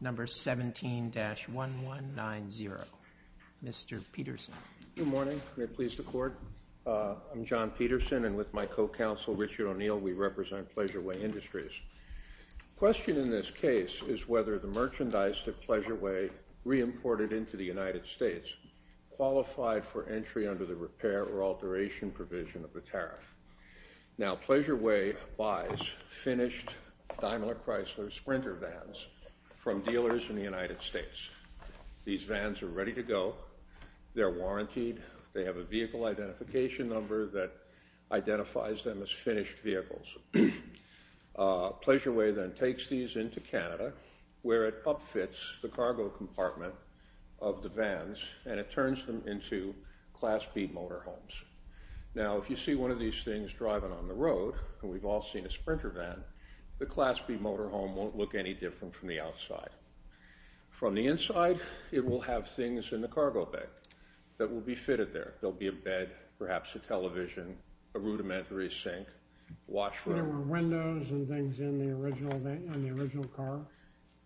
Number 17-1190. Mr. Peterson. Good morning. May it please the court? I'm John Peterson and with my co-counsel Richard O'Neill, we represent Pleasure-Way Industries. The question in this case is whether the merchandise that Pleasure-Way re-imported into the United States qualified for entry under the repair or alteration provision of the tariff. Now Pleasure-Way buys finished Daimler Chrysler Sprinter vans from dealers in the United States. These vans are ready to go. They're warrantied. They have a vehicle identification number that identifies them as finished vehicles. Pleasure-Way then takes these into Canada where it up-fits the cargo compartment of the vans and it turns them into Class B motorhomes. Now if you see one of these things driving on the road, and we've all seen a Sprinter van, the Class B motorhome won't look any different from the outside. From the inside, it will have things in the cargo bay that will be fitted there. There'll be a bed, perhaps a television, a rudimentary sink, a washroom. There were windows and things in the original car?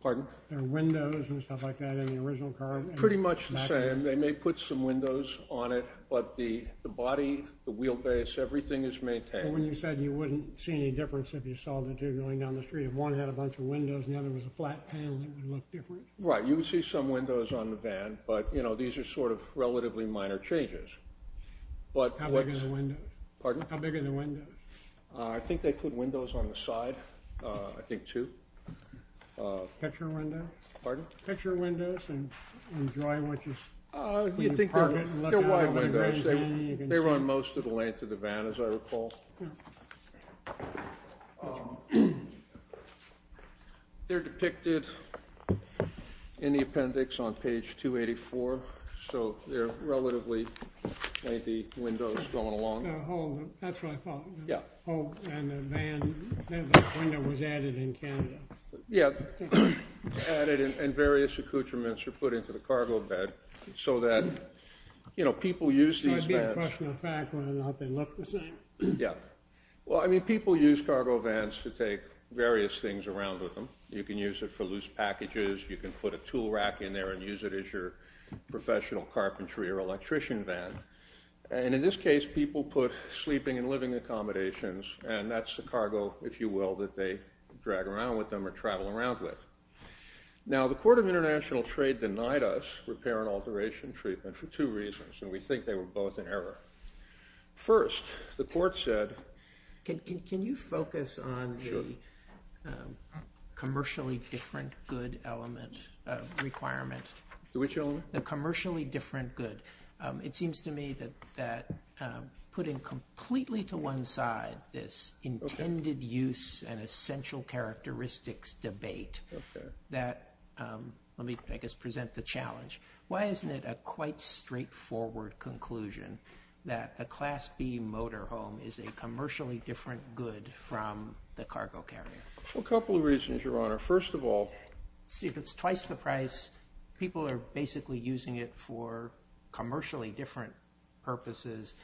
Pardon? There were windows and stuff like that in the original car? Pretty much the same. They may put some windows on it, but the body, the wheelbase, everything is maintained. When you said you wouldn't see any difference if you saw the two going down the street, if one had a bunch of windows and the other was a flat panel, it would look different? Right, you would see some windows on the van, but, you know, these are sort of relatively minor changes. How big are the windows? Pardon? How big are the windows? I think they put windows on the side, I think two. Picture windows? Pardon? Picture windows and enjoy what you see. They're wide windows. They run most of the length of the van, as I recall. They're depicted in the appendix on page 284, so they're relatively, maybe, windows going along. The hole, that's what I thought. Yeah. The hole in the van, the window was added in Canada. Yeah, added in various accoutrements were put into the cargo bed so that, you know, people use these vans. Question of fact, whether or not they look the same? Yeah. Well, I mean, people use cargo vans to take various things around with them. You can use it for loose packages, you can put a tool rack in there and use it as your professional carpentry or electrician van. And in this case, people put sleeping and living accommodations, and that's the cargo, if you will, that they drag around with them or travel around with. Now, the Court of International Trade denied us repair and alteration treatment for two reasons, and we think they were both in error. First, the court said... Can you focus on the commercially different good element requirement? Which element? The commercially different good. It seems to me that putting completely to one side this intended use and essential characteristics debate... Okay. ...that, let me, I guess, present the challenge. Why isn't it a quite straightforward conclusion that the Class B motorhome is a commercially different good from the cargo carrier? Well, a couple of reasons, Your Honor. First of all... See, if it's twice the price, people are basically using it for commercially different purposes,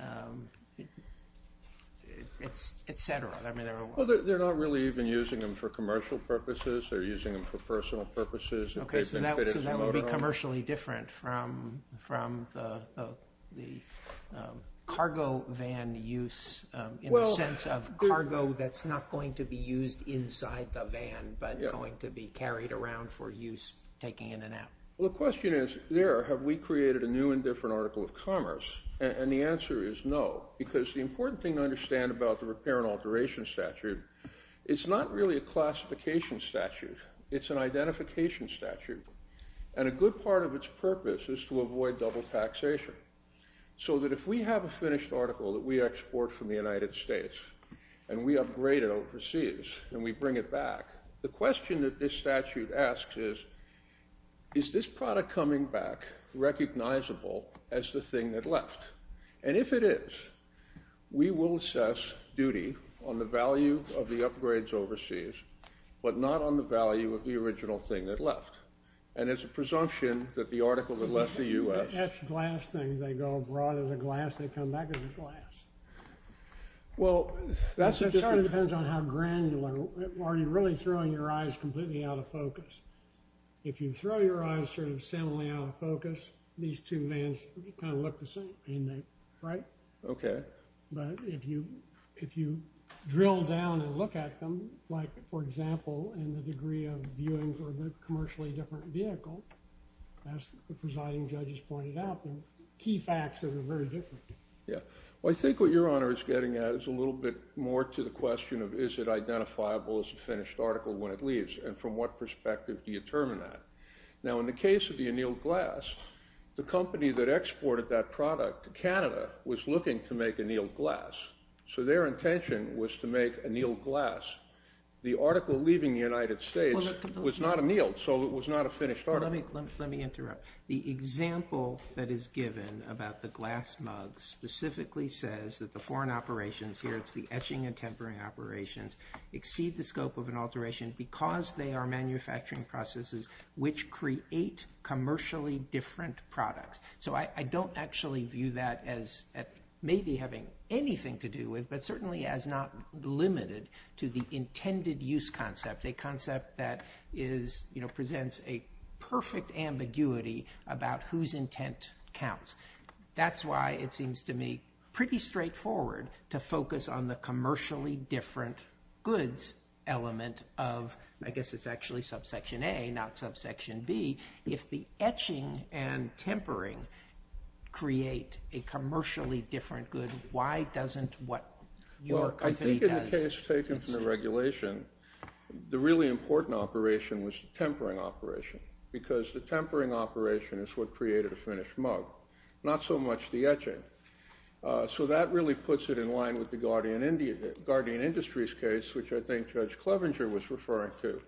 et cetera. I mean, they're... Well, they're not really even using them for commercial purposes. They're using them for personal purposes. Okay, so that would be commercially different from the cargo van use in the sense of cargo that's not going to be used inside the van but going to be carried around for use taking in and out. Well, the question is, there, have we created a new and different article of commerce? And the answer is no, because the important thing to understand about the repair and alteration statute, it's not really a classification statute. It's an identification statute, and a good part of its purpose is to avoid double taxation, so that if we have a finished article that we export from the United States, and we upgrade it overseas, and we bring it back, the question that this statute asks is, is this product coming back recognizable as the thing that left? And if it is, we will assess duty on the value of the upgrades overseas, but not on the value of the original thing that left. And it's a presumption that the article that left the U.S. I mean, that's glass things. They go abroad as a glass. They come back as glass. It sort of depends on how granular you are. Are you really throwing your eyes completely out of focus? If you throw your eyes sort of seminally out of focus, these two vans kind of look the same. And they, right? Okay. But if you drill down and look at them, like, for example, in the degree of viewing for the commercially different vehicle, as the presiding judges pointed out, the key facts are very different. Yeah. Well, I think what Your Honor is getting at is a little bit more to the question of is it identifiable as a finished article when it leaves, and from what perspective do you determine that? Now, in the case of the annealed glass, the company that exported that product to Canada was looking to make annealed glass. So their intention was to make annealed glass. The article leaving the United States was not annealed, so it was not a finished article. Let me interrupt. The example that is given about the glass mugs specifically says that the foreign operations here, it's the etching and tempering operations, exceed the scope of an alteration because they are manufacturing processes which create commercially different products. So I don't actually view that as maybe having anything to do with, but certainly as not limited to the intended use concept, a concept that presents a perfect ambiguity about whose intent counts. That's why it seems to me pretty straightforward to focus on the commercially different goods element of, I guess it's actually subsection A, not subsection B. If the etching and tempering create a commercially different good, why doesn't what your company does? In the case taken from the regulation, the really important operation was the tempering operation because the tempering operation is what created a finished mug, not so much the etching. So that really puts it in line with the Guardian Industries case, which I think Judge Clevenger was referring to.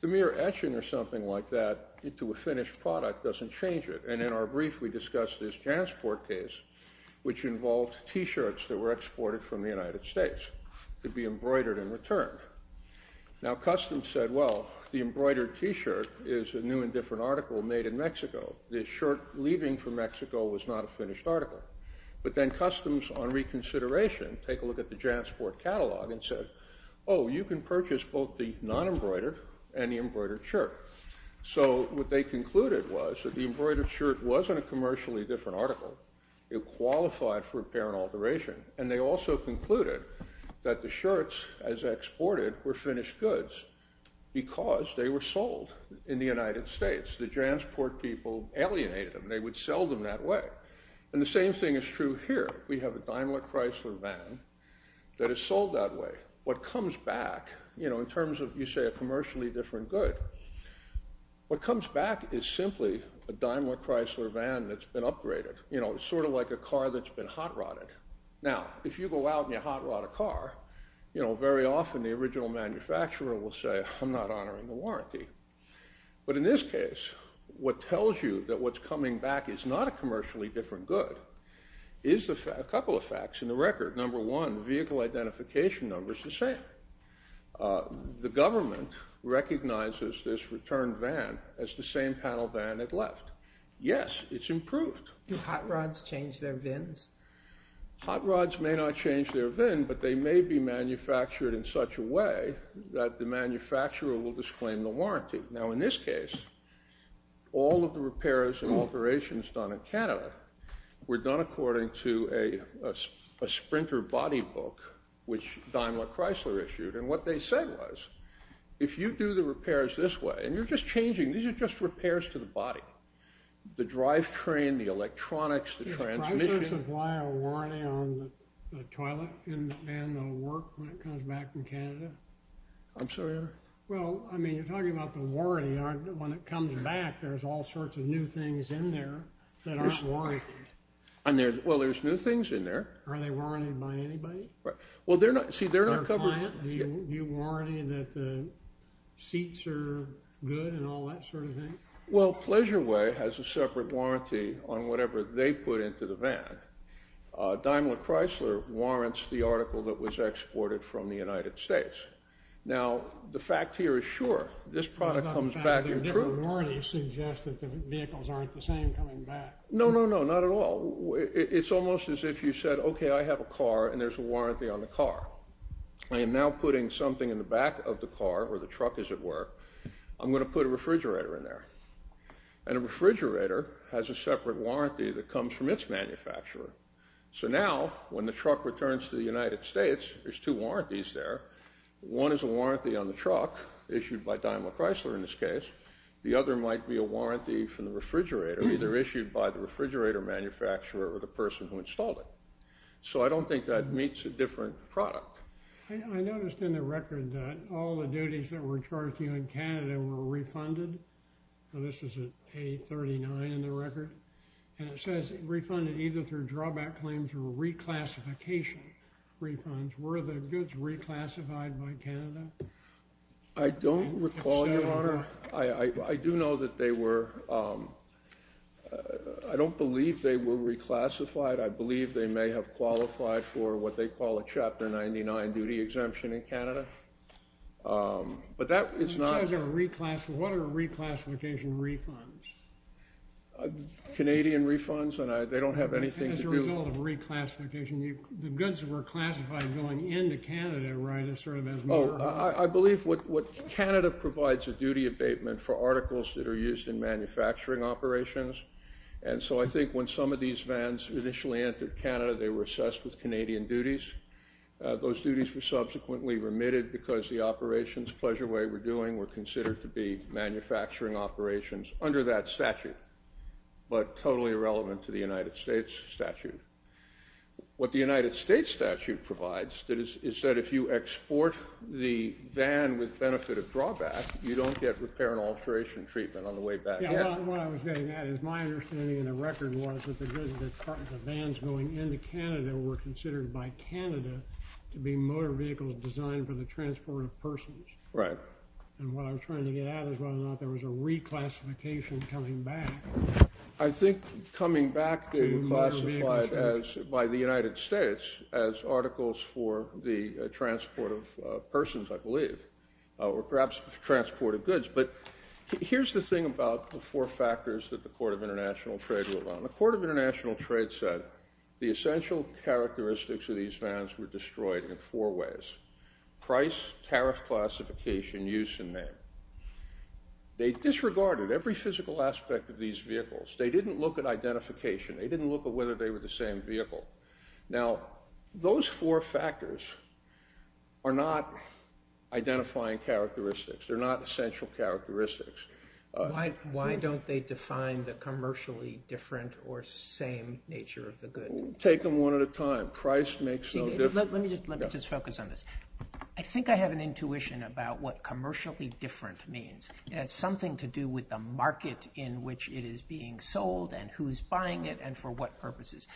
The mere etching or something like that into a finished product doesn't change it. And in our brief, we discussed this Jansport case, which involved T-shirts that were exported from the United States to be embroidered and returned. Now customs said, well, the embroidered T-shirt is a new and different article made in Mexico. The shirt leaving from Mexico was not a finished article. But then customs, on reconsideration, take a look at the Jansport catalog and said, oh, you can purchase both the non-embroidered and the embroidered shirt. So what they concluded was that the embroidered shirt wasn't a commercially different article. It qualified for repair and alteration. And they also concluded that the shirts, as exported, were finished goods because they were sold in the United States. The Jansport people alienated them. They would sell them that way. And the same thing is true here. We have a Daimler Chrysler van that is sold that way. What comes back, in terms of, you say, a commercially different good, what comes back is simply a Daimler Chrysler van that's been upgraded. It's sort of like a car that's been hot-rodded. Now, if you go out and you hot-rod a car, very often the original manufacturer will say, I'm not honoring the warranty. But in this case, what tells you that what's coming back is not a commercially different good is a couple of facts in the record. Number one, vehicle identification number is the same. The government recognizes this returned van as the same panel van it left. Yes, it's improved. Do hot rods change their vins? Hot rods may not change their vins, but they may be manufactured in such a way that the manufacturer will disclaim the warranty. Now, in this case, all of the repairs and alterations done in Canada were done according to a Sprinter body book, which Daimler Chrysler issued. And what they said was, if you do the repairs this way, and you're just changing. These are just repairs to the body. The drivetrain, the electronics, the transmission. Does Chrysler supply a warranty on the toilet in the van that will work when it comes back from Canada? I'm sorry? Well, I mean, you're talking about the warranty. When it comes back, there's all sorts of new things in there that aren't warrantied. Well, there's new things in there. Are they warrantied by anybody? Well, see, they're not covered. Do you warranty that the seats are good and all that sort of thing? Well, Pleasure Way has a separate warranty on whatever they put into the van. Daimler Chrysler warrants the article that was exported from the United States. Now, the fact here is sure. This product comes back in true. I'm not saying their different warranties suggest that the vehicles aren't the same coming back. No, no, no. Not at all. It's almost as if you said, okay, I have a car, and there's a warranty on the car. I am now putting something in the back of the car, or the truck as it were. I'm going to put a refrigerator in there. And a refrigerator has a separate warranty that comes from its manufacturer. So now, when the truck returns to the United States, there's two warranties there. One is a warranty on the truck issued by Daimler Chrysler in this case. The other might be a warranty from the refrigerator, either issued by the refrigerator manufacturer or the person who installed it. So I don't think that meets a different product. I noticed in the record that all the duties that were charged to you in Canada were refunded. This is at A39 in the record. And it says refunded either through drawback claims or reclassification refunds. Were the goods reclassified by Canada? I don't recall, Your Honor. I do know that they were. I don't believe they were reclassified. I believe they may have qualified for what they call a Chapter 99 duty exemption in Canada. But that is not. What are reclassification refunds? Canadian refunds, and they don't have anything to do with it. As a result of reclassification, the goods that were classified going into Canada, right, is sort of as more? Oh, I believe Canada provides a duty abatement for articles that are used in manufacturing operations. And so I think when some of these vans initially entered Canada, they were assessed with Canadian duties. Those duties were subsequently remitted because the operations Pleasure Way were doing were considered to be manufacturing operations. Under that statute, but totally irrelevant to the United States statute. What the United States statute provides is that if you export the van with benefit of drawback, you don't get repair and alteration treatment on the way back. Yeah, what I was getting at is my understanding in the record was that the goods, the vans going into Canada were considered by Canada to be motor vehicles designed for the transport of persons. Right. And what I'm trying to get at is whether or not there was a reclassification coming back. I think coming back to classified as by the United States as articles for the transport of persons, I believe, or perhaps transport of goods. But here's the thing about the four factors that the Court of International Trade wrote on. The Court of International Trade said the essential characteristics of these vans were destroyed in four ways. Price, tariff classification, use, and name. They disregarded every physical aspect of these vehicles. They didn't look at identification. They didn't look at whether they were the same vehicle. Now, those four factors are not identifying characteristics. They're not essential characteristics. Why don't they define the commercially different or same nature of the good? Take them one at a time. Price makes no difference. Let me just focus on this. I think I have an intuition about what commercially different means. It has something to do with the market in which it is being sold and who's buying it and for what purposes.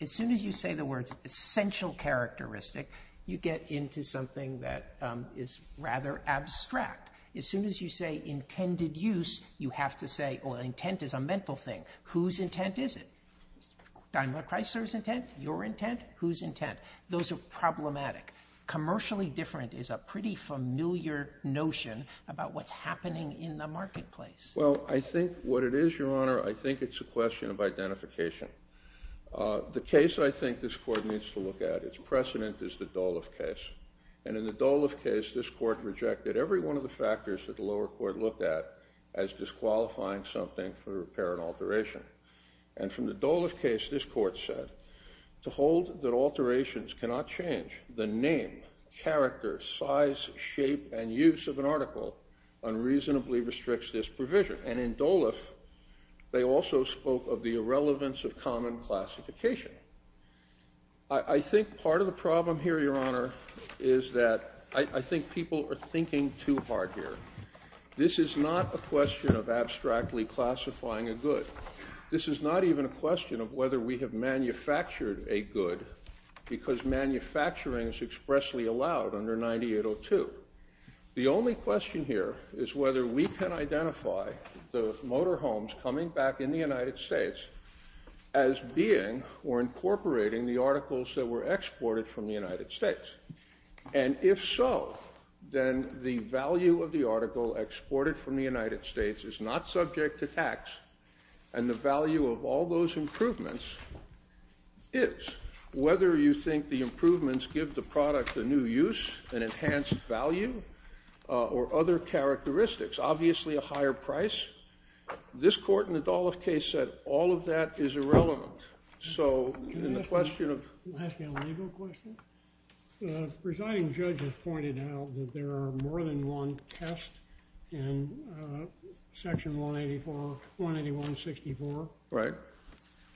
As soon as you say the words essential characteristic, you get into something that is rather abstract. As soon as you say intended use, you have to say, oh, intent is a mental thing. Whose intent is it? Daniel or Chrysler's intent? Your intent? Whose intent? Those are problematic. Commercially different is a pretty familiar notion about what's happening in the marketplace. Well, I think what it is, Your Honor, I think it's a question of identification. The case I think this Court needs to look at, its precedent, is the Dolev case. And in the Dolev case, this Court rejected every one of the factors that the lower court looked at as disqualifying something for repair and alteration. And from the Dolev case, this Court said, to hold that alterations cannot change the name, character, size, shape, and use of an article unreasonably restricts this provision. And in Dolev, they also spoke of the irrelevance of common classification. I think part of the problem here, Your Honor, is that I think people are thinking too hard here. This is not a question of abstractly classifying a good. This is not even a question of whether we have manufactured a good, because manufacturing is expressly allowed under 9802. The only question here is whether we can identify the motorhomes coming back in the United States as being or incorporating the articles that were exported from the United States. And if so, then the value of the article exported from the United States is not subject to tax. And the value of all those improvements is. Whether you think the improvements give the product a new use, an enhanced value, or other characteristics, obviously a higher price. This Court in the Dolev case said all of that is irrelevant. Can I ask you a legal question? The presiding judge has pointed out that there are more than one test in Section 181-64. Right.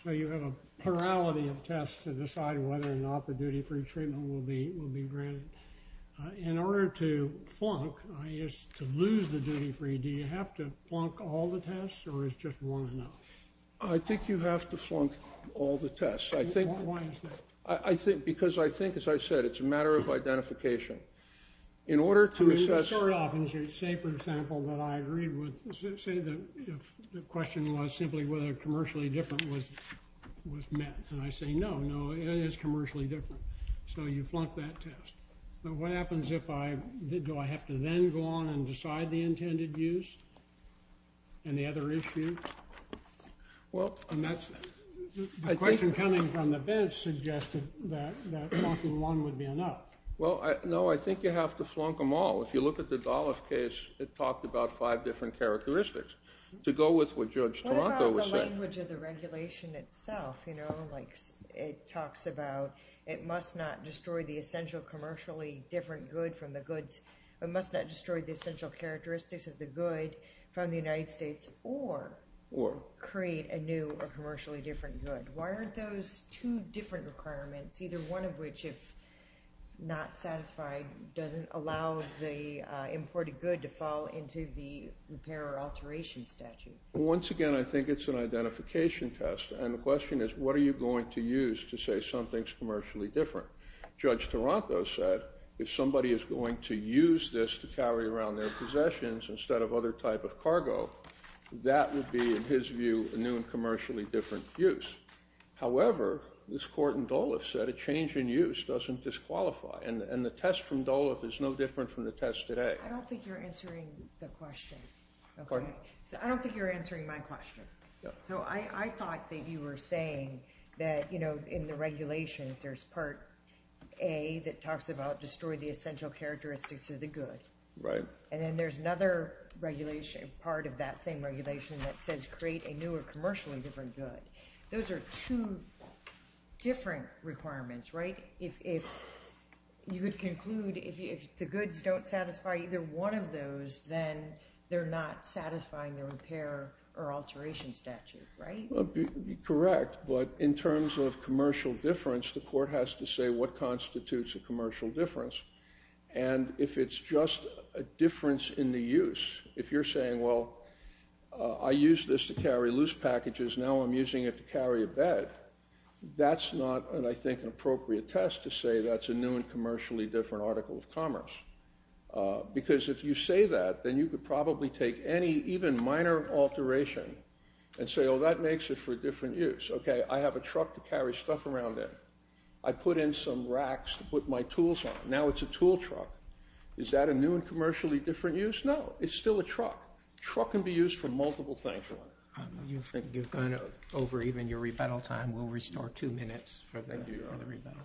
So you have a plurality of tests to decide whether or not the duty-free treatment will be granted. In order to flunk, that is, to lose the duty-free, do you have to flunk all the tests, or is just one enough? I think you have to flunk all the tests. Why is that? Because I think, as I said, it's a matter of identification. I mean, to start off and say, for example, that I agreed with, say the question was simply whether commercially different was met. And I say, no, no, it is commercially different. So you flunk that test. What happens if I, do I have to then go on and decide the intended use? And the other issue? Well. And that's, the question coming from the bench suggested that flunking one would be enough. Well, no, I think you have to flunk them all. If you look at the Dolev case, it talked about five different characteristics. To go with what Judge Toronto said. What about the language of the regulation itself? It talks about it must not destroy the essential commercially different good from the goods. It must not destroy the essential characteristics of the good from the United States or create a new or commercially different good. Why aren't those two different requirements, either one of which, if not satisfied, doesn't allow the imported good to fall into the repair or alteration statute? Once again, I think it's an identification test. And the question is, what are you going to use to say something's commercially different? Judge Toronto said, if somebody is going to use this to carry around their possessions instead of other type of cargo, that would be, in his view, a new and commercially different use. However, this court in Dolev said a change in use doesn't disqualify. And the test from Dolev is no different from the test today. I don't think you're answering the question. Pardon? I don't think you're answering my question. I thought that you were saying that, you know, in the regulations, there's part A that talks about destroy the essential characteristics of the good. Right. And then there's another regulation, part of that same regulation, that says create a new or commercially different good. Those are two different requirements, right? You could conclude if the goods don't satisfy either one of those, then they're not satisfying the repair or alteration statute, right? Correct. But in terms of commercial difference, the court has to say what constitutes a commercial difference. And if it's just a difference in the use, if you're saying, well, I used this to carry loose packages. Now I'm using it to carry a bed. That's not, I think, an appropriate test to say that's a new and commercially different article of commerce. Because if you say that, then you could probably take any even minor alteration and say, oh, that makes it for a different use. Okay. I have a truck to carry stuff around in. I put in some racks to put my tools on. Now it's a tool truck. Is that a new and commercially different use? No. It's still a truck. A truck can be used for multiple things. You've gone over even your rebuttal time. We'll restore two minutes for the rebuttal.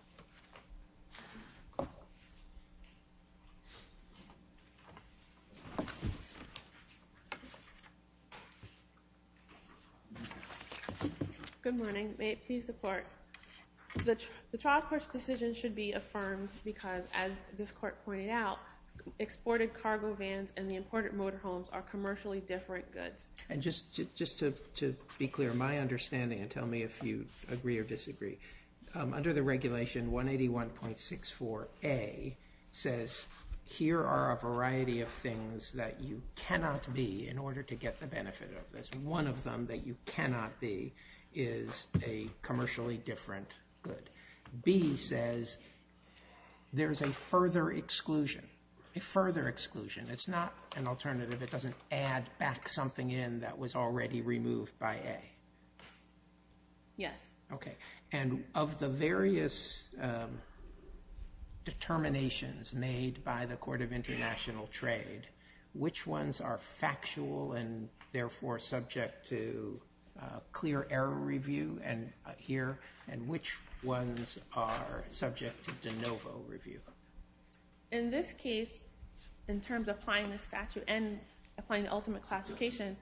Good morning. May it please the court. The trial court's decision should be affirmed because, as this court pointed out, exported cargo vans and the imported motorhomes are commercially different goods. And just to be clear, my understanding, and tell me if you agree or disagree, under the regulation 181.64a says here are a variety of things that you cannot be in order to get the benefit of this. One of them that you cannot be is a commercially different good. B says there's a further exclusion. A further exclusion. It's not an alternative. It doesn't add back something in that was already removed by A. Yes. Okay. And of the various determinations made by the Court of International Trade, which ones are factual and therefore subject to clear error review here, and which ones are subject to de novo review? In this case, in terms of applying the statute and applying the ultimate classification,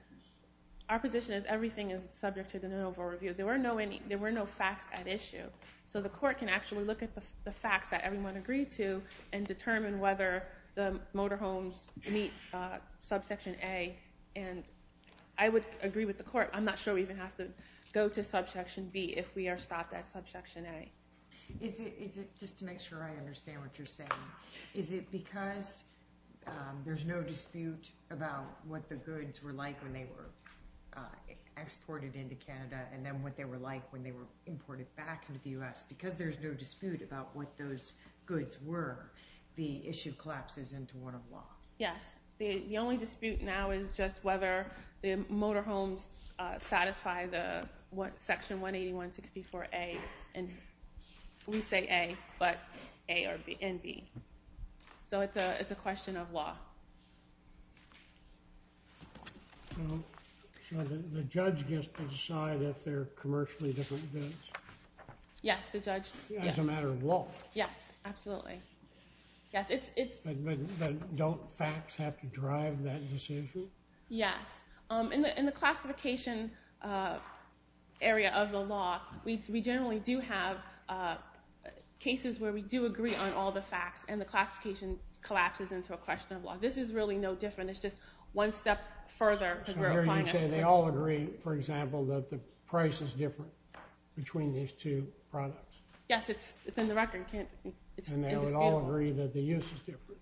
our position is everything is subject to de novo review. There were no facts at issue. So the court can actually look at the facts that everyone agreed to and determine whether the motorhomes meet subsection A. And I would agree with the court. I'm not sure we even have to go to subsection B if we are stopped at subsection A. Just to make sure I understand what you're saying, is it because there's no dispute about what the goods were like when they were exported into Canada and then what they were like when they were imported back into the U.S.? Because there's no dispute about what those goods were, the issue collapses into one of law. Yes. The only dispute now is just whether the motorhomes satisfy the section 181.64A. And we say A, but A and B. So it's a question of law. So the judge gets to decide if they're commercially different goods? Yes, the judge. As a matter of law. Yes, absolutely. But don't facts have to drive that decision? Yes. In the classification area of the law, we generally do have cases where we do agree on all the facts and the classification collapses into a question of law. This is really no different. It's just one step further. So you're saying they all agree, for example, that the price is different between these two products? Yes, it's in the record. And they would all agree that the use is different?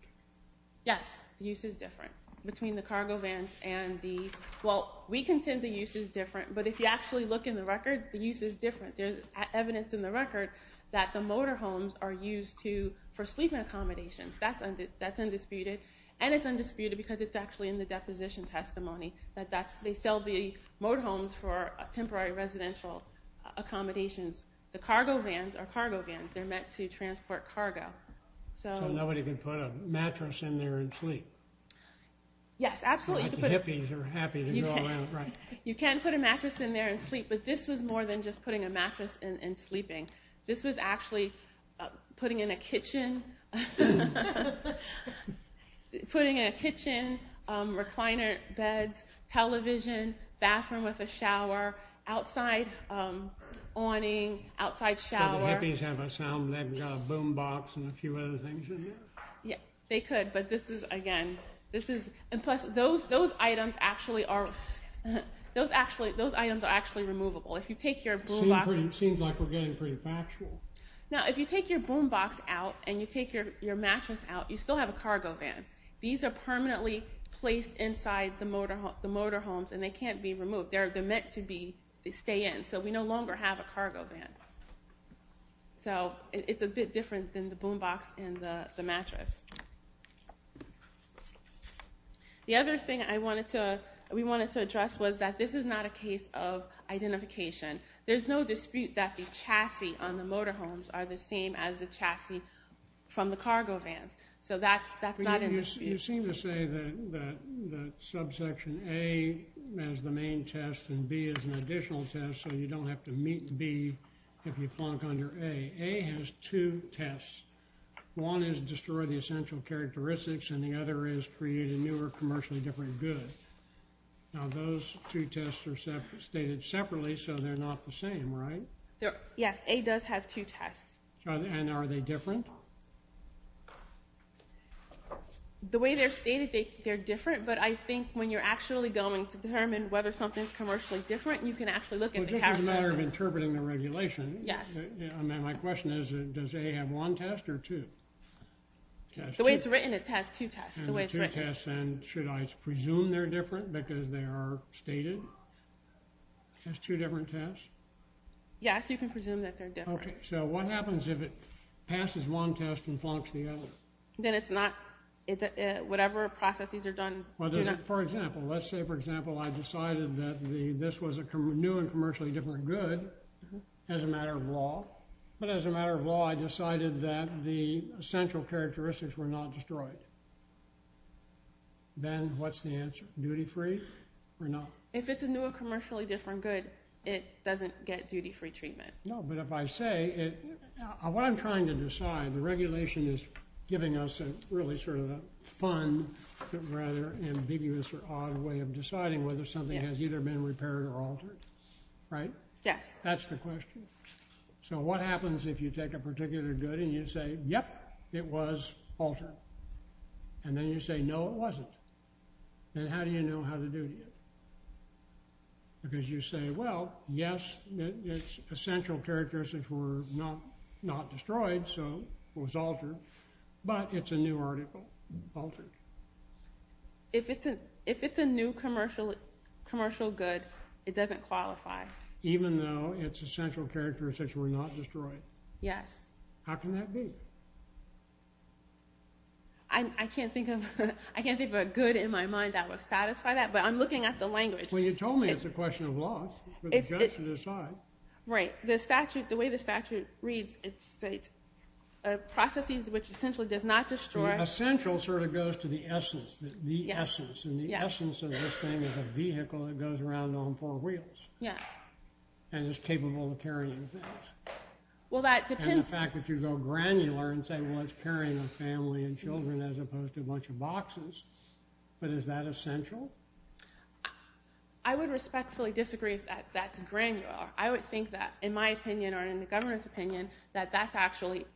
Yes, the use is different between the cargo vans and the – well, we contend the use is different, but if you actually look in the record, the use is different. There's evidence in the record that the motorhomes are used for sleeping accommodations. That's undisputed. And it's undisputed because it's actually in the deposition testimony that they sell the motorhomes for temporary residential accommodations. The cargo vans are cargo vans. They're meant to transport cargo. So nobody can put a mattress in there and sleep? Yes, absolutely. So the hippies are happy to go around. You can put a mattress in there and sleep, but this was more than just putting a mattress in and sleeping. This was actually putting in a kitchen – putting in a kitchen, recliner beds, television, bathroom with a shower, outside awning, outside shower. So the hippies have a sound – they've got a boom box and a few other things in here? Yes, they could, but this is – again, this is – and plus, those items actually are – those items are actually removable. If you take your boom box – Seems like we're getting pretty factual. Now, if you take your boom box out and you take your mattress out, you still have a cargo van. These are permanently placed inside the motorhomes, and they can't be removed. They're meant to stay in, so we no longer have a cargo van. So it's a bit different than the boom box and the mattress. The other thing I wanted to – we wanted to address was that this is not a case of identification. There's no dispute that the chassis on the motorhomes are the same as the chassis from the cargo vans, so that's not in dispute. You seem to say that subsection A has the main test and B has an additional test, so you don't have to meet B if you flunk under A. A has two tests. One is destroy the essential characteristics, and the other is create a new or commercially different good. Now, those two tests are stated separately, so they're not the same, right? Yes, A does have two tests. And are they different? The way they're stated, they're different, but I think when you're actually going to determine whether something's commercially different, you can actually look at the – Well, this is a matter of interpreting the regulation. Yes. My question is, does A have one test or two? The way it's written, it has two tests. The way it's written. And should I presume they're different because they are stated as two different tests? Yes, you can presume that they're different. Okay, so what happens if it passes one test and flunks the other? Then it's not – whatever processes are done – Well, for example, let's say, for example, I decided that this was a new and commercially different good as a matter of law. But as a matter of law, I decided that the essential characteristics were not destroyed. Then what's the answer? Duty-free or not? If it's a new or commercially different good, it doesn't get duty-free treatment. No, but if I say – what I'm trying to decide, the regulation is giving us a really sort of a fun but rather ambiguous or odd way of deciding whether something has either been repaired or altered, right? Yes. That's the question. So what happens if you take a particular good and you say, yep, it was altered? And then you say, no, it wasn't. Then how do you know how to duty it? Because you say, well, yes, its essential characteristics were not destroyed, so it was altered, but it's a new article, altered. If it's a new commercial good, it doesn't qualify. Even though its essential characteristics were not destroyed? Yes. How can that be? I can't think of a good in my mind that would satisfy that, but I'm looking at the language. Well, you told me it's a question of loss. The way the statute reads, it's processes which essentially does not destroy. The essential sort of goes to the essence, the essence, and the essence of this thing is a vehicle that goes around on four wheels. Yes. And is capable of carrying things. And the fact that you go granular and say, well, it's carrying a family and children as opposed to a bunch of boxes, but is that essential? I would respectfully disagree if that's granular. I would think that, in my opinion or in the government's opinion, that that's actually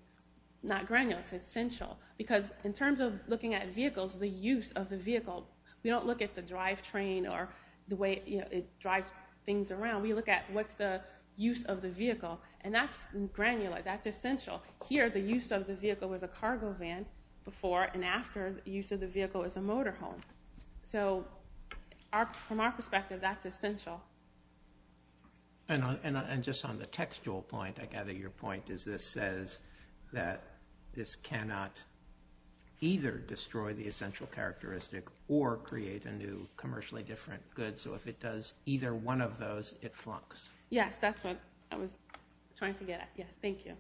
not granular, it's essential. Because in terms of looking at vehicles, the use of the vehicle, we don't look at the drive train or the way it drives things around. We look at what's the use of the vehicle, and that's granular, that's essential. Here, the use of the vehicle was a cargo van before and after the use of the vehicle as a motor home. So from our perspective, that's essential. And just on the textual point, I gather your point is this says that this cannot either destroy the essential characteristic or create a new commercially different good. So if it does either one of those, it flunks. Yes, that's what I was trying to get at. Yes, thank you.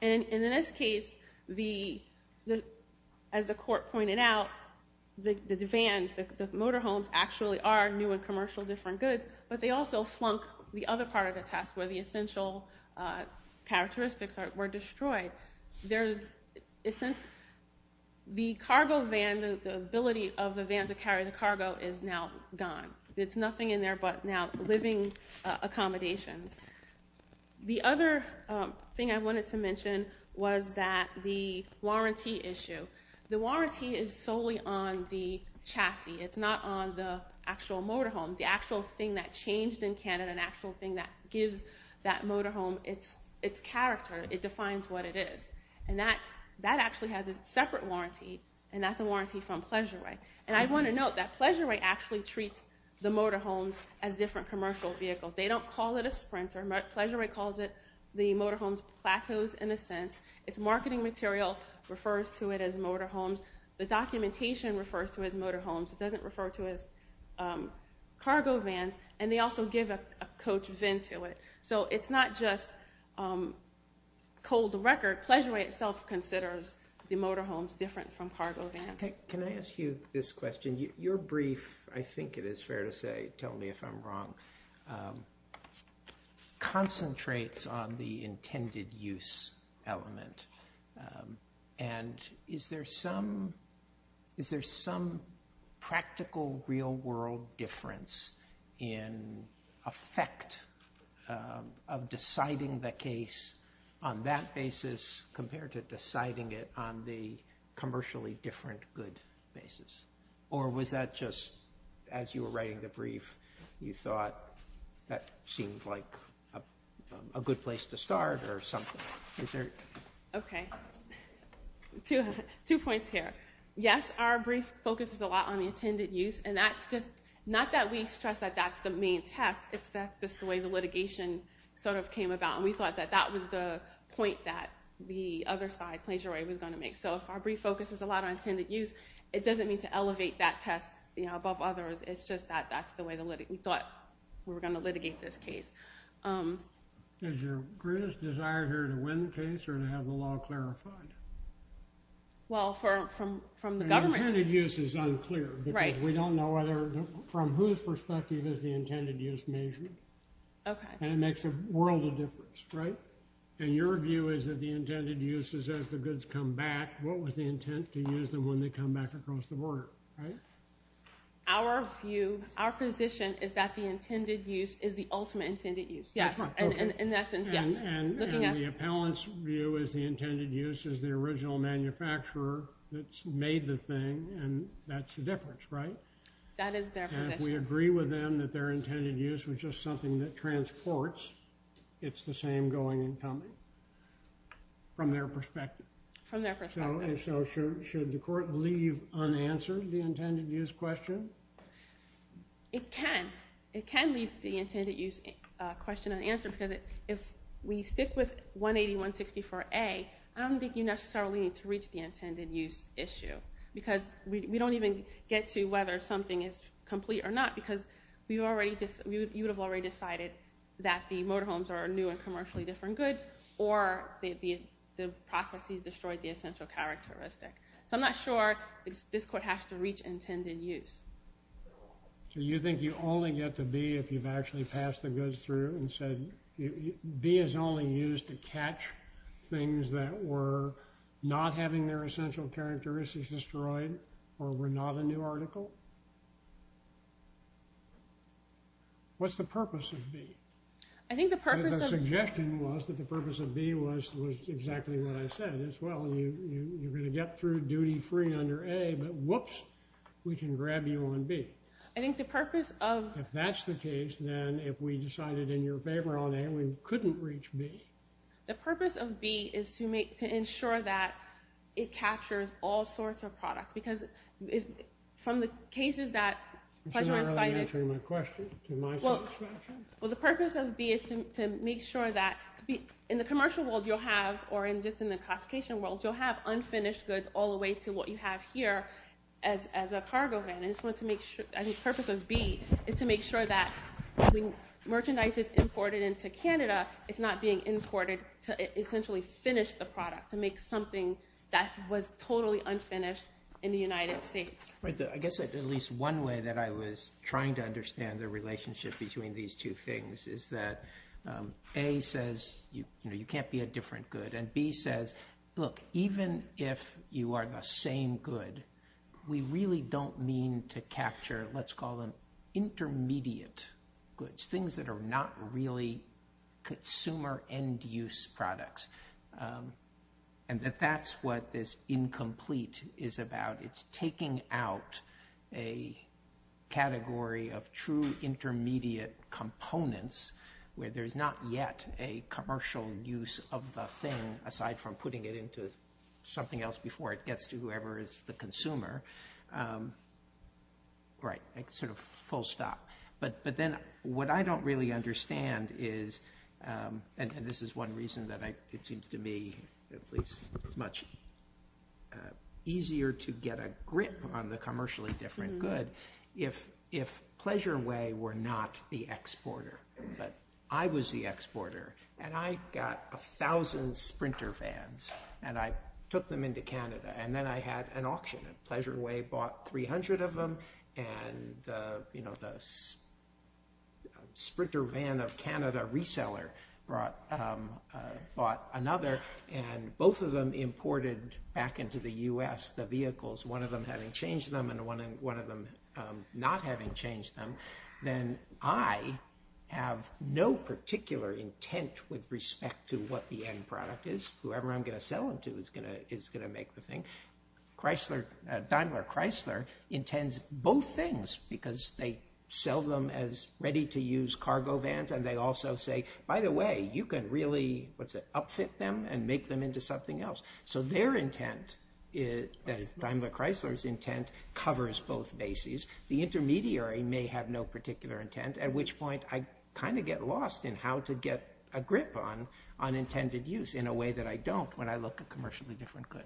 And in this case, as the court pointed out, the van, the motor homes actually are new and commercial different goods, but they also flunk the other part of the test where the essential characteristics were destroyed. The cargo van, the ability of the van to carry the cargo is now gone. It's nothing in there but now living accommodations. The other thing I wanted to mention was that the warranty issue. The warranty is solely on the chassis. It's not on the actual motor home. The actual thing that changed in Canada, an actual thing that gives that motor home its character, it defines what it is. And that actually has a separate warranty, and that's a warranty from Pleasure-Way. And I want to note that Pleasure-Way actually treats the motor homes as different commercial vehicles. They don't call it a sprinter. Pleasure-Way calls it the motor homes plateaus in a sense. Its marketing material refers to it as motor homes. The documentation refers to it as motor homes. It doesn't refer to it as cargo vans, and they also give a coach of VIN to it. So it's not just cold record. Pleasure-Way itself considers the motor homes different from cargo vans. Can I ask you this question? Your brief, I think it is fair to say, tell me if I'm wrong, concentrates on the intended use element. And is there some practical real-world difference in effect of deciding the case on that basis compared to deciding it on the commercially different good basis? Or was that just as you were writing the brief, you thought that seemed like a good place to start or something? Okay. Two points here. Yes, our brief focuses a lot on the intended use. And that's just, not that we stress that that's the main test. That's just the way the litigation sort of came about. And we thought that that was the point that the other side, Pleasure-Way, was going to make. So if our brief focuses a lot on intended use, it doesn't mean to elevate that test above others. It's just that that's the way we thought we were going to litigate this case. Is your greatest desire here to win the case or to have the law clarified? Well, from the government's— The intended use is unclear. Right. Because we don't know from whose perspective is the intended use measured. Okay. And it makes a world of difference, right? And your view is that the intended use is as the goods come back. What was the intent to use them when they come back across the border, right? Our view, our position, is that the intended use is the ultimate intended use. That's right. In essence, yes. And the appellant's view is the intended use is the original manufacturer that made the thing, and that's the difference, right? That is their position. And if we agree with them that their intended use was just something that transports, it's the same going and coming from their perspective. From their perspective. And so should the court leave unanswered the intended use question? It can. It can leave the intended use question unanswered because if we stick with 180-164-A, I don't think you necessarily need to reach the intended use issue because we don't even get to whether something is complete or not because you would have already decided that the motorhomes are new and commercially different goods or the processes destroyed the essential characteristic. So I'm not sure this court has to reach intended use. Do you think you only get the B if you've actually passed the goods through and said, B is only used to catch things that were not having their essential characteristics destroyed or were not a new article? What's the purpose of B? The suggestion was that the purpose of B was exactly what I said as well. You're going to get through duty-free under A, but whoops, we can grab you on B. If that's the case, then if we decided in your favor on A, we couldn't reach B. The purpose of B is to ensure that it captures all sorts of products. It's not really answering my question. Well, the purpose of B is to make sure that in the commercial world you'll have, or just in the classification world, you'll have unfinished goods all the way to what you have here as a cargo van. The purpose of B is to make sure that when merchandise is imported into Canada, it's not being imported to essentially finish the product, to make something that was totally unfinished in the United States. I guess at least one way that I was trying to understand the relationship between these two things is that A says you can't be a different good, and B says, look, even if you are the same good, we really don't mean to capture, let's call them intermediate goods, things that are not really consumer end-use products, and that that's what this incomplete is about. It's taking out a category of true intermediate components where there's not yet a commercial use of the thing, aside from putting it into something else before it gets to whoever is the consumer. Right, sort of full stop. But then what I don't really understand is, and this is one reason that it seems to me at least much easier to get a grip on the commercially different good, if Pleasure Way were not the exporter, but I was the exporter, and I got a thousand sprinter vans, and I took them into Canada, and then I had an auction, and Pleasure Way bought 300 of them, and the sprinter van of Canada reseller bought another, and both of them imported back into the U.S., the vehicles, one of them having changed them, and one of them not having changed them, then I have no particular intent with respect to what the end product is. Whoever I'm going to sell them to is going to make the thing. Daimler-Chrysler intends both things, because they sell them as ready-to-use cargo vans, and they also say, by the way, you can really upfit them and make them into something else. So their intent, that is Daimler-Chrysler's intent, covers both bases. The intermediary may have no particular intent, at which point I kind of get lost in how to get a grip on unintended use in a way that I don't when I look at commercially different good.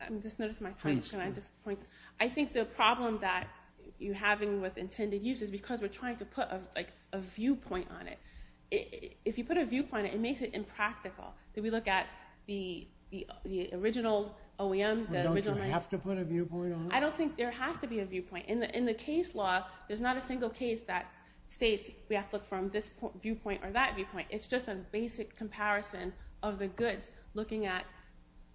I just noticed my time, can I just point? I think the problem that you're having with intended use is because we're trying to put a viewpoint on it. If you put a viewpoint on it, it makes it impractical. If we look at the original OEM, the original— Don't you have to put a viewpoint on it? I don't think there has to be a viewpoint. In the case law, there's not a single case that states we have to look from this viewpoint or that viewpoint. It's just a basic comparison of the goods, looking at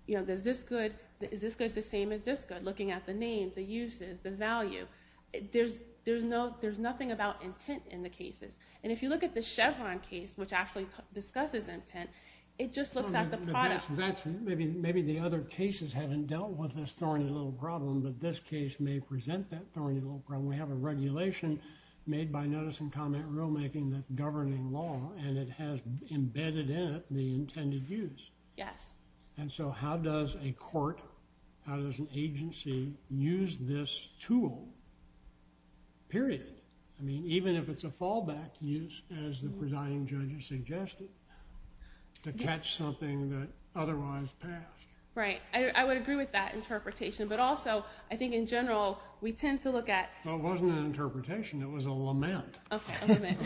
is this good the same as this good, looking at the name, the uses, the value. There's nothing about intent in the cases. And if you look at the Chevron case, which actually discusses intent, it just looks at the product. Maybe the other cases haven't dealt with this thorny little problem, but this case may present that thorny little problem. We have a regulation made by Notice and Comment Rulemaking that's governing law, and it has embedded in it the intended use. And so how does a court, how does an agency use this tool, period? I mean, even if it's a fallback use, as the presiding judge has suggested, to catch something that otherwise passed. Right. I would agree with that interpretation. But also, I think in general, we tend to look at— Well, it wasn't an interpretation. It was a lament. A lament.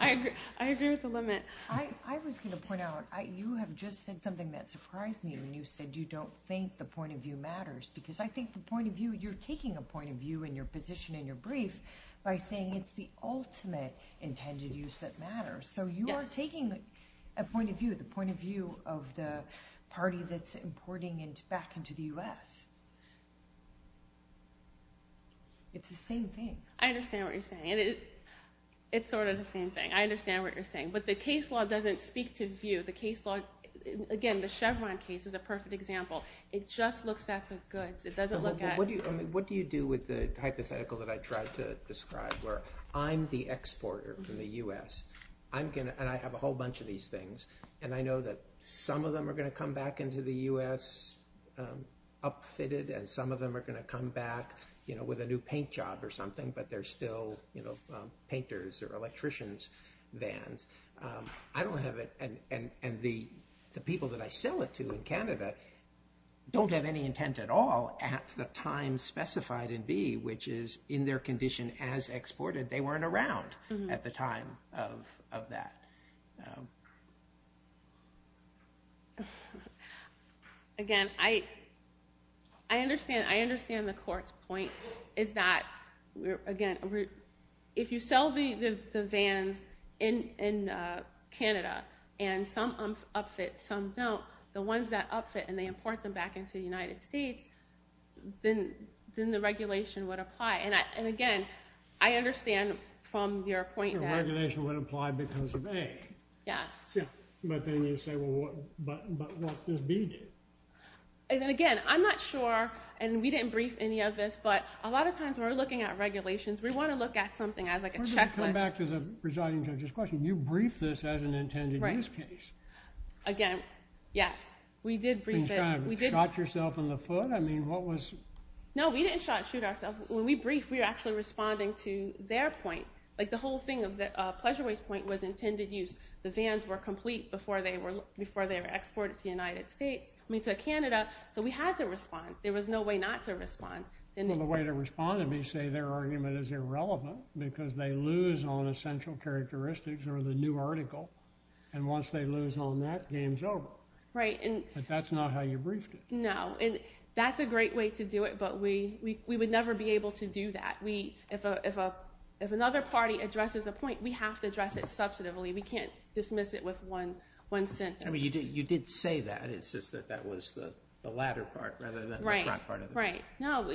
I agree with the lament. I was going to point out, you have just said something that surprised me when you said you don't think the point of view matters, because I think the point of view, you're taking a point of view in your position in your brief by saying it's the ultimate intended use that matters. So you are taking a point of view, the point of view of the party that's importing back into the U.S. It's the same thing. I understand what you're saying. It's sort of the same thing. I understand what you're saying. But the case law doesn't speak to view. The case law—again, the Chevron case is a perfect example. It just looks at the goods. It doesn't look at— What do you do with the hypothetical that I tried to describe, where I'm the exporter in the U.S., and I have a whole bunch of these things, and I know that some of them are going to come back into the U.S. upfitted, and some of them are going to come back with a new paint job or something, but they're still painters' or electricians' vans. I don't have it, and the people that I sell it to in Canada don't have any intent at all at the time specified in B, which is in their condition as exported. They weren't around at the time of that. Again, I understand the court's point is that, again, if you sell the vans in Canada, and some upfit, some don't, the ones that upfit and they import them back into the United States, then the regulation would apply. Again, I understand from your point that— The regulation would apply because of A. Yes. But then you say, well, but what does B do? Again, I'm not sure, and we didn't brief any of this, but a lot of times when we're looking at regulations, we want to look at something as like a checklist. We're going to come back to the presiding judge's question. You briefed this as an intended use case. Again, yes, we did brief it. You shot yourself in the foot? No, we didn't shoot ourselves. When we briefed, we were actually responding to their point. The whole thing of the pleasure waste point was intended use. The vans were complete before they were exported to Canada, so we had to respond. There was no way not to respond. The way they responded, they say their argument is irrelevant because they lose on essential characteristics or the new article, and once they lose on that, game's over. Right. But that's not how you briefed it. No, and that's a great way to do it, but we would never be able to do that. If another party addresses a point, we have to address it substantively. We can't dismiss it with one sentence. You did say that. It's just that that was the latter part rather than the front part of it. Right, right. No,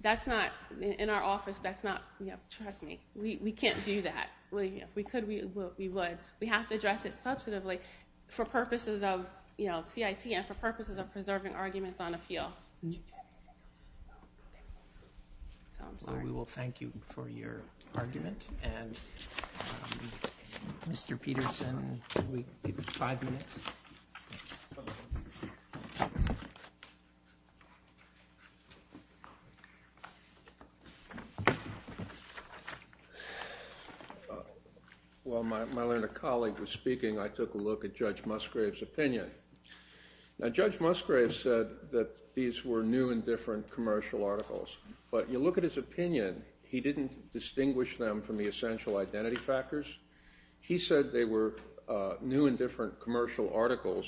that's not—in our office, that's not—trust me. We can't do that. If we could, we would. But we have to address it substantively for purposes of CIT and for purposes of preserving arguments on appeal. We will thank you for your argument. Mr. Peterson, we have five minutes. While my learned colleague was speaking, I took a look at Judge Musgrave's opinion. Now, Judge Musgrave said that these were new and different commercial articles, but you look at his opinion, he didn't distinguish them from the essential identity factors. He said they were new and different commercial articles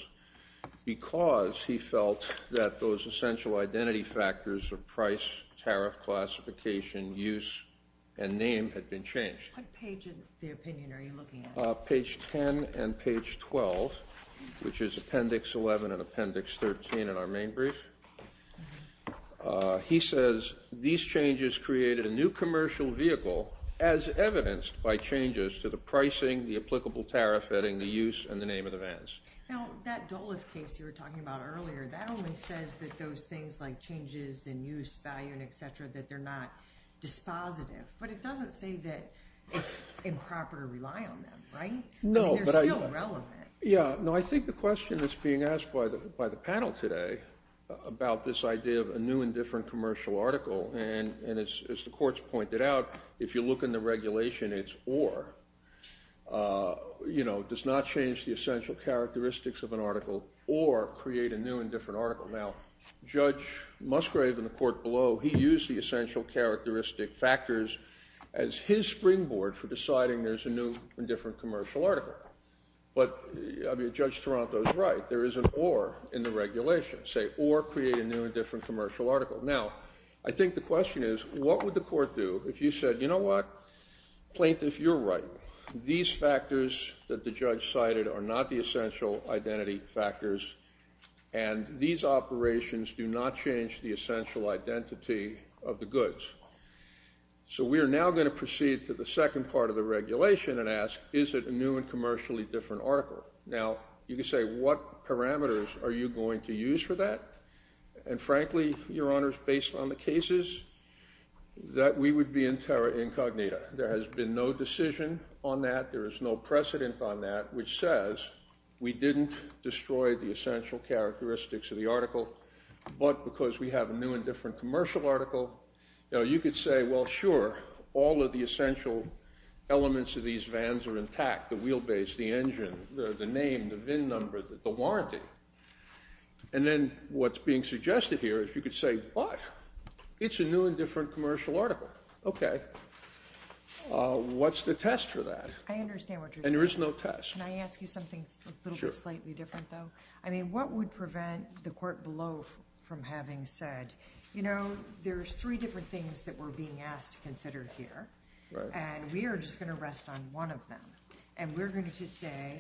because he felt that those essential identity factors of price, tariff, classification, use, and name had been changed. What page of the opinion are you looking at? Page 10 and page 12, which is Appendix 11 and Appendix 13 in our main brief. He says these changes created a new commercial vehicle as evidenced by changes to the pricing, the applicable tariff, vetting, the use, and the name of the vans. Now, that Dolef case you were talking about earlier, that only says that those things like changes in use, value, and et cetera, that they're not dispositive. But it doesn't say that it's improper to rely on them, right? No, but I— They're still relevant. Yeah. No, I think the question that's being asked by the panel today about this idea of a new and different commercial article, and as the courts pointed out, if you look in the regulation, it's or, you know, does not change the essential characteristics of an article or create a new and different article. Now, Judge Musgrave in the court below, he used the essential characteristic factors as his springboard for deciding there's a new and different commercial article. But Judge Toronto is right. There is an or in the regulation. Say, or create a new and different commercial article. Now, I think the question is, what would the court do if you said, you know what? Plaintiff, you're right. These factors that the judge cited are not the essential identity factors, and these operations do not change the essential identity of the goods. So we are now going to proceed to the second part of the regulation and ask, is it a new and commercially different article? Now, you could say, what parameters are you going to use for that? And frankly, Your Honors, based on the cases, that we would be in terra incognita. There has been no decision on that. There is no precedent on that which says we didn't destroy the essential characteristics of the article, but because we have a new and different commercial article. Now, you could say, well, sure, all of the essential elements of these vans are intact, the wheelbase, the engine, the name, the VIN number, the warranty. And then what's being suggested here is you could say, but it's a new and different commercial article. Okay. What's the test for that? I understand what you're saying. And there is no test. Can I ask you something a little bit slightly different, though? Sure. I mean, what would prevent the court below from having said, you know, there's three different things that we're being asked to consider here, and we are just going to rest on one of them. And we're going to say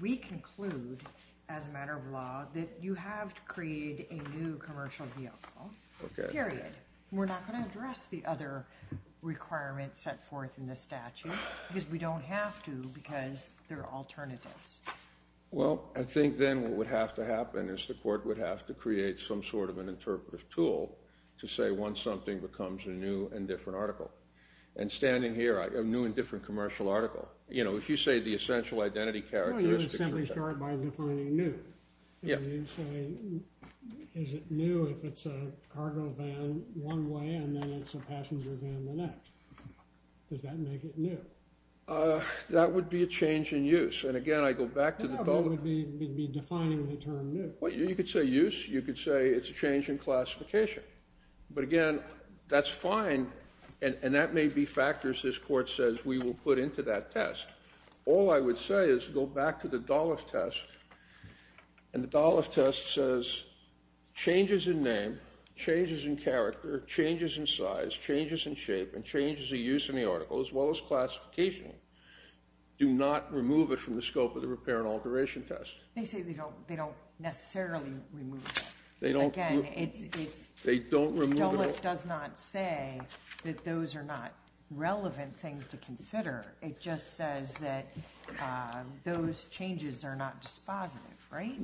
we conclude, as a matter of law, that you have to create a new commercial vehicle, period. We're not going to address the other requirements set forth in the statute because we don't have to because there are alternatives. Well, I think then what would have to happen is the court would have to rule to say once something becomes a new and different article. And standing here, a new and different commercial article, you know, if you say the essential identity characteristics. Well, you simply start by defining new. Yeah. You say, is it new if it's a cargo van one way and then it's a passenger van the next? Does that make it new? That would be a change in use. And, again, I go back to the public. No, but it would be defining the term new. Well, you could say use. You could say it's a change in classification. But, again, that's fine, and that may be factors this court says we will put into that test. All I would say is go back to the Dollef test, and the Dollef test says changes in name, changes in character, changes in size, changes in shape, and changes in use in the article, as well as classification, do not remove it from the scope of the repair and alteration test. They say they don't necessarily remove it. Again, Dollef does not say that those are not relevant things to consider. It just says that those changes are not dispositive, right?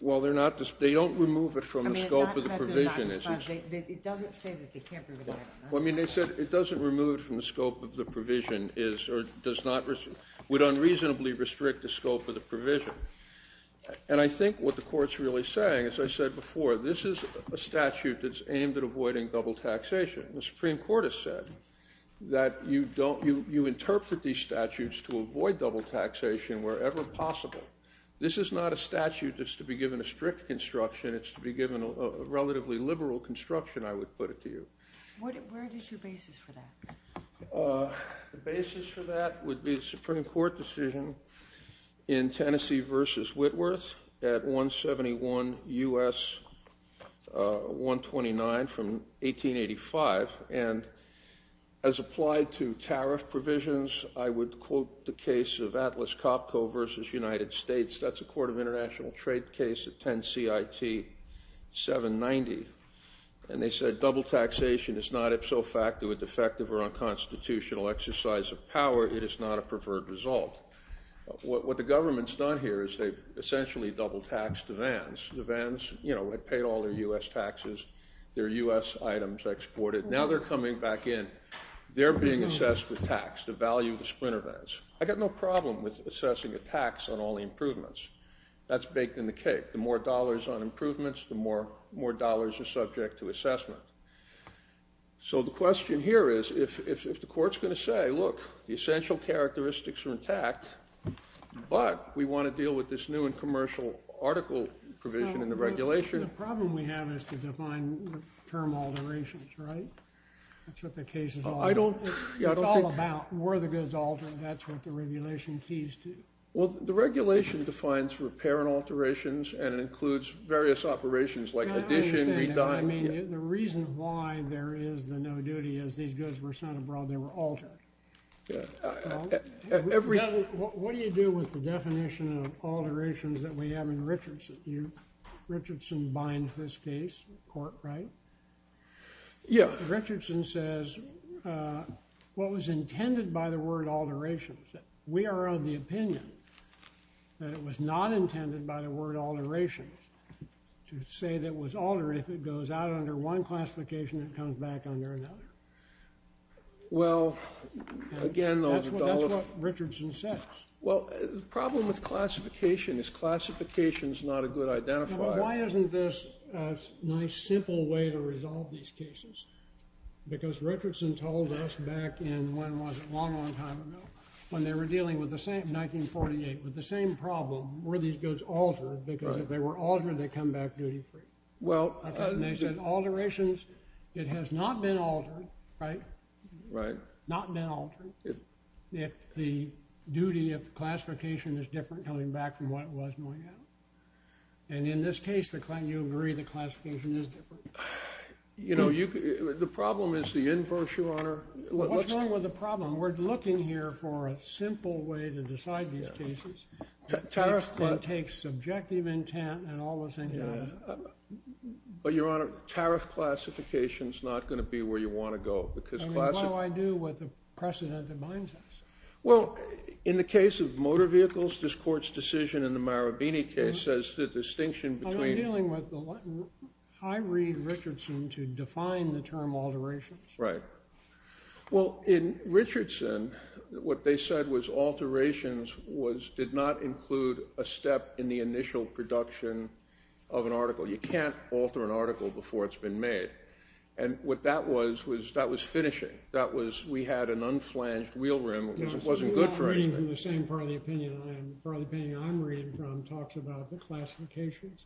Well, they don't remove it from the scope of the provision. It doesn't say that they can't remove it. Well, I mean, they said it doesn't remove it from the scope of the provision, would unreasonably restrict the scope of the provision. And I think what the court's really saying, as I said before, this is a statute that's aimed at avoiding double taxation. The Supreme Court has said that you interpret these statutes to avoid double taxation wherever possible. This is not a statute that's to be given a strict construction. It's to be given a relatively liberal construction, I would put it to you. Where is your basis for that? The basis for that would be the Supreme Court decision in Tennessee v. Whitworth at 171 U.S. 129 from 1885. And as applied to tariff provisions, I would quote the case of Atlas Copco v. United States. That's a court of international trade case at 10 CIT 790. And they said double taxation is not ipso facto, a defective or unconstitutional exercise of power. It is not a preferred result. What the government's done here is they've essentially double taxed the vans. The vans, you know, have paid all their U.S. taxes. Their U.S. items exported. Now they're coming back in. They're being assessed with tax, the value of the splinter vans. I've got no problem with assessing a tax on all the improvements. That's baked in the cake. The more dollars on improvements, the more dollars are subject to assessment. So the question here is if the court's going to say, look, the essential characteristics are intact, but we want to deal with this new and commercial article provision in the regulation. The problem we have is to define term alterations, right? That's what the case is all about. It's all about were the goods altered? That's what the regulation keys to. Well, the regulation defines repair and alterations and includes various operations like addition, rediming. I mean, the reason why there is the no duty is these goods were sent abroad. They were altered. What do you do with the definition of alterations that we have in Richardson? Richardson binds this case in court, right? Yeah. Richardson says what was intended by the word alterations. We are of the opinion that it was not intended by the word alterations to say that it was altered. If it goes out under one classification, it comes back under another. Well, again. That's what Richardson says. Well, the problem with classification is classification is not a good identifier. Why isn't this a nice, simple way to resolve these cases? Because Richardson told us back in when was it, a long, long time ago, when they were dealing with the same, 1948, with the same problem. Were these goods altered? Because if they were altered, they come back duty free. They said alterations, it has not been altered, right? Not been altered. If the duty of classification is different coming back from what it was going out. And in this case, you agree the classification is different. You know, the problem is the inverse, Your Honor. What's wrong with the problem? We're looking here for a simple way to decide these cases. Tariff claim takes subjective intent and all those things. But, Your Honor, tariff classification is not going to be where you want to go. I mean, what do I do with the precedent that binds us? Well, in the case of motor vehicles, this court's decision in the Marabini case says the distinction between. But I'm dealing with the, I read Richardson to define the term alterations. Right. Well, in Richardson, what they said was alterations was, did not include a step in the initial production of an article. You can't alter an article before it's been made. And what that was, was that was finishing. That was, we had an unflanged wheel rim. It wasn't good for anything. We're not reading from the same part of the opinion. The part of the opinion I'm reading from talks about the classifications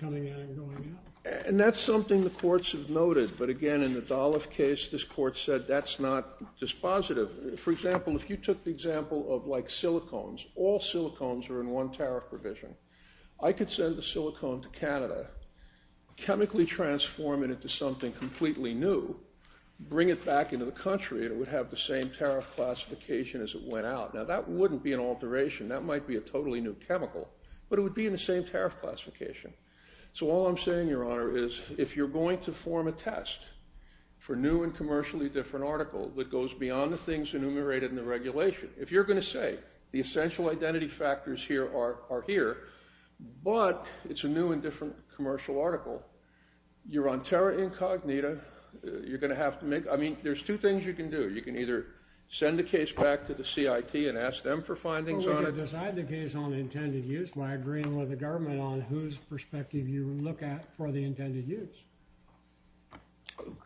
coming in and going out. And that's something the courts have noted. But, again, in the Dolloff case, this court said that's not dispositive. For example, if you took the example of, like, silicones, all silicones are in one tariff provision. I could send a silicone to Canada, chemically transform it into something completely new, bring it back into the country, and it would have the same tariff classification as it went out. Now, that wouldn't be an alteration. That might be a totally new chemical. But it would be in the same tariff classification. So all I'm saying, Your Honor, is if you're going to form a test for new and commercially different article that goes beyond the things enumerated in the regulation, if you're going to say the essential identity factors here are here, but it's a new and different commercial article, you're on terra incognita. You're going to have to make – I mean, there's two things you can do. You can either send the case back to the CIT and ask them for findings on it. Well, we can decide the case on intended use by agreeing with the government on whose perspective you look at for the intended use.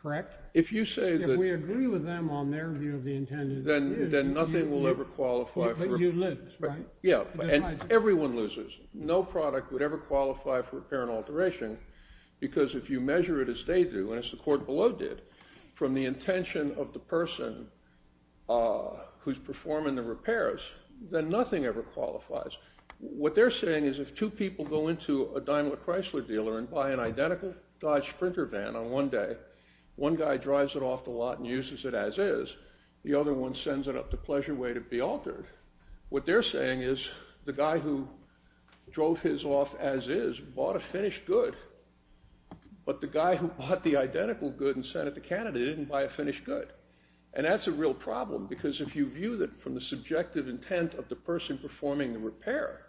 Correct? If you say that – If we agree with them on their view of the intended use – Then nothing will ever qualify for – You lose, right? Yeah. And everyone loses. No product would ever qualify for repair and alteration because if you measure it as they do and as the court below did from the intention of the person who's performing the repairs, then nothing ever qualifies. What they're saying is if two people go into a Daimler Chrysler dealer and buy an identical Dodge Sprinter van on one day, one guy drives it off the lot and uses it as is. The other one sends it up the pleasure way to be altered. What they're saying is the guy who drove his off as is bought a finished good, but the guy who bought the identical good and sent it to Canada didn't buy a finished good. And that's a real problem because if you view it from the subjective intent of the person performing the repair,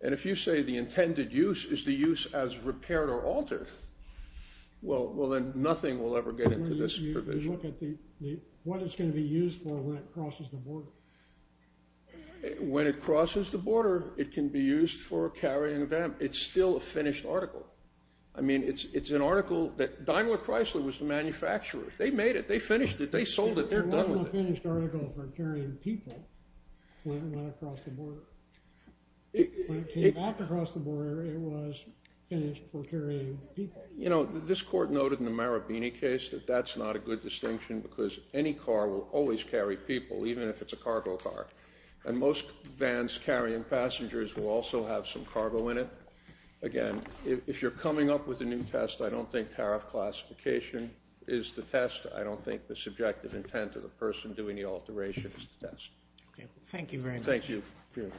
and if you say the intended use is the use as repaired or altered, well, then nothing will ever get into this provision. What it's going to be used for when it crosses the border. When it crosses the border, it can be used for carrying a van. It's still a finished article. I mean, it's an article that – Daimler Chrysler was the manufacturer. They made it. They finished it. They sold it. They're done with it. It wasn't a finished article for carrying people when it went across the border. When it came back across the border, it was finished for carrying people. You know, this court noted in the Marabini case that that's not a good distinction because any car will always carry people, even if it's a cargo car. And most vans carrying passengers will also have some cargo in it. Again, if you're coming up with a new test, I don't think tariff classification is the test. I don't think the subjective intent of the person doing the alteration is the test. Thank you very much. Thank you. The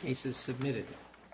case is submitted.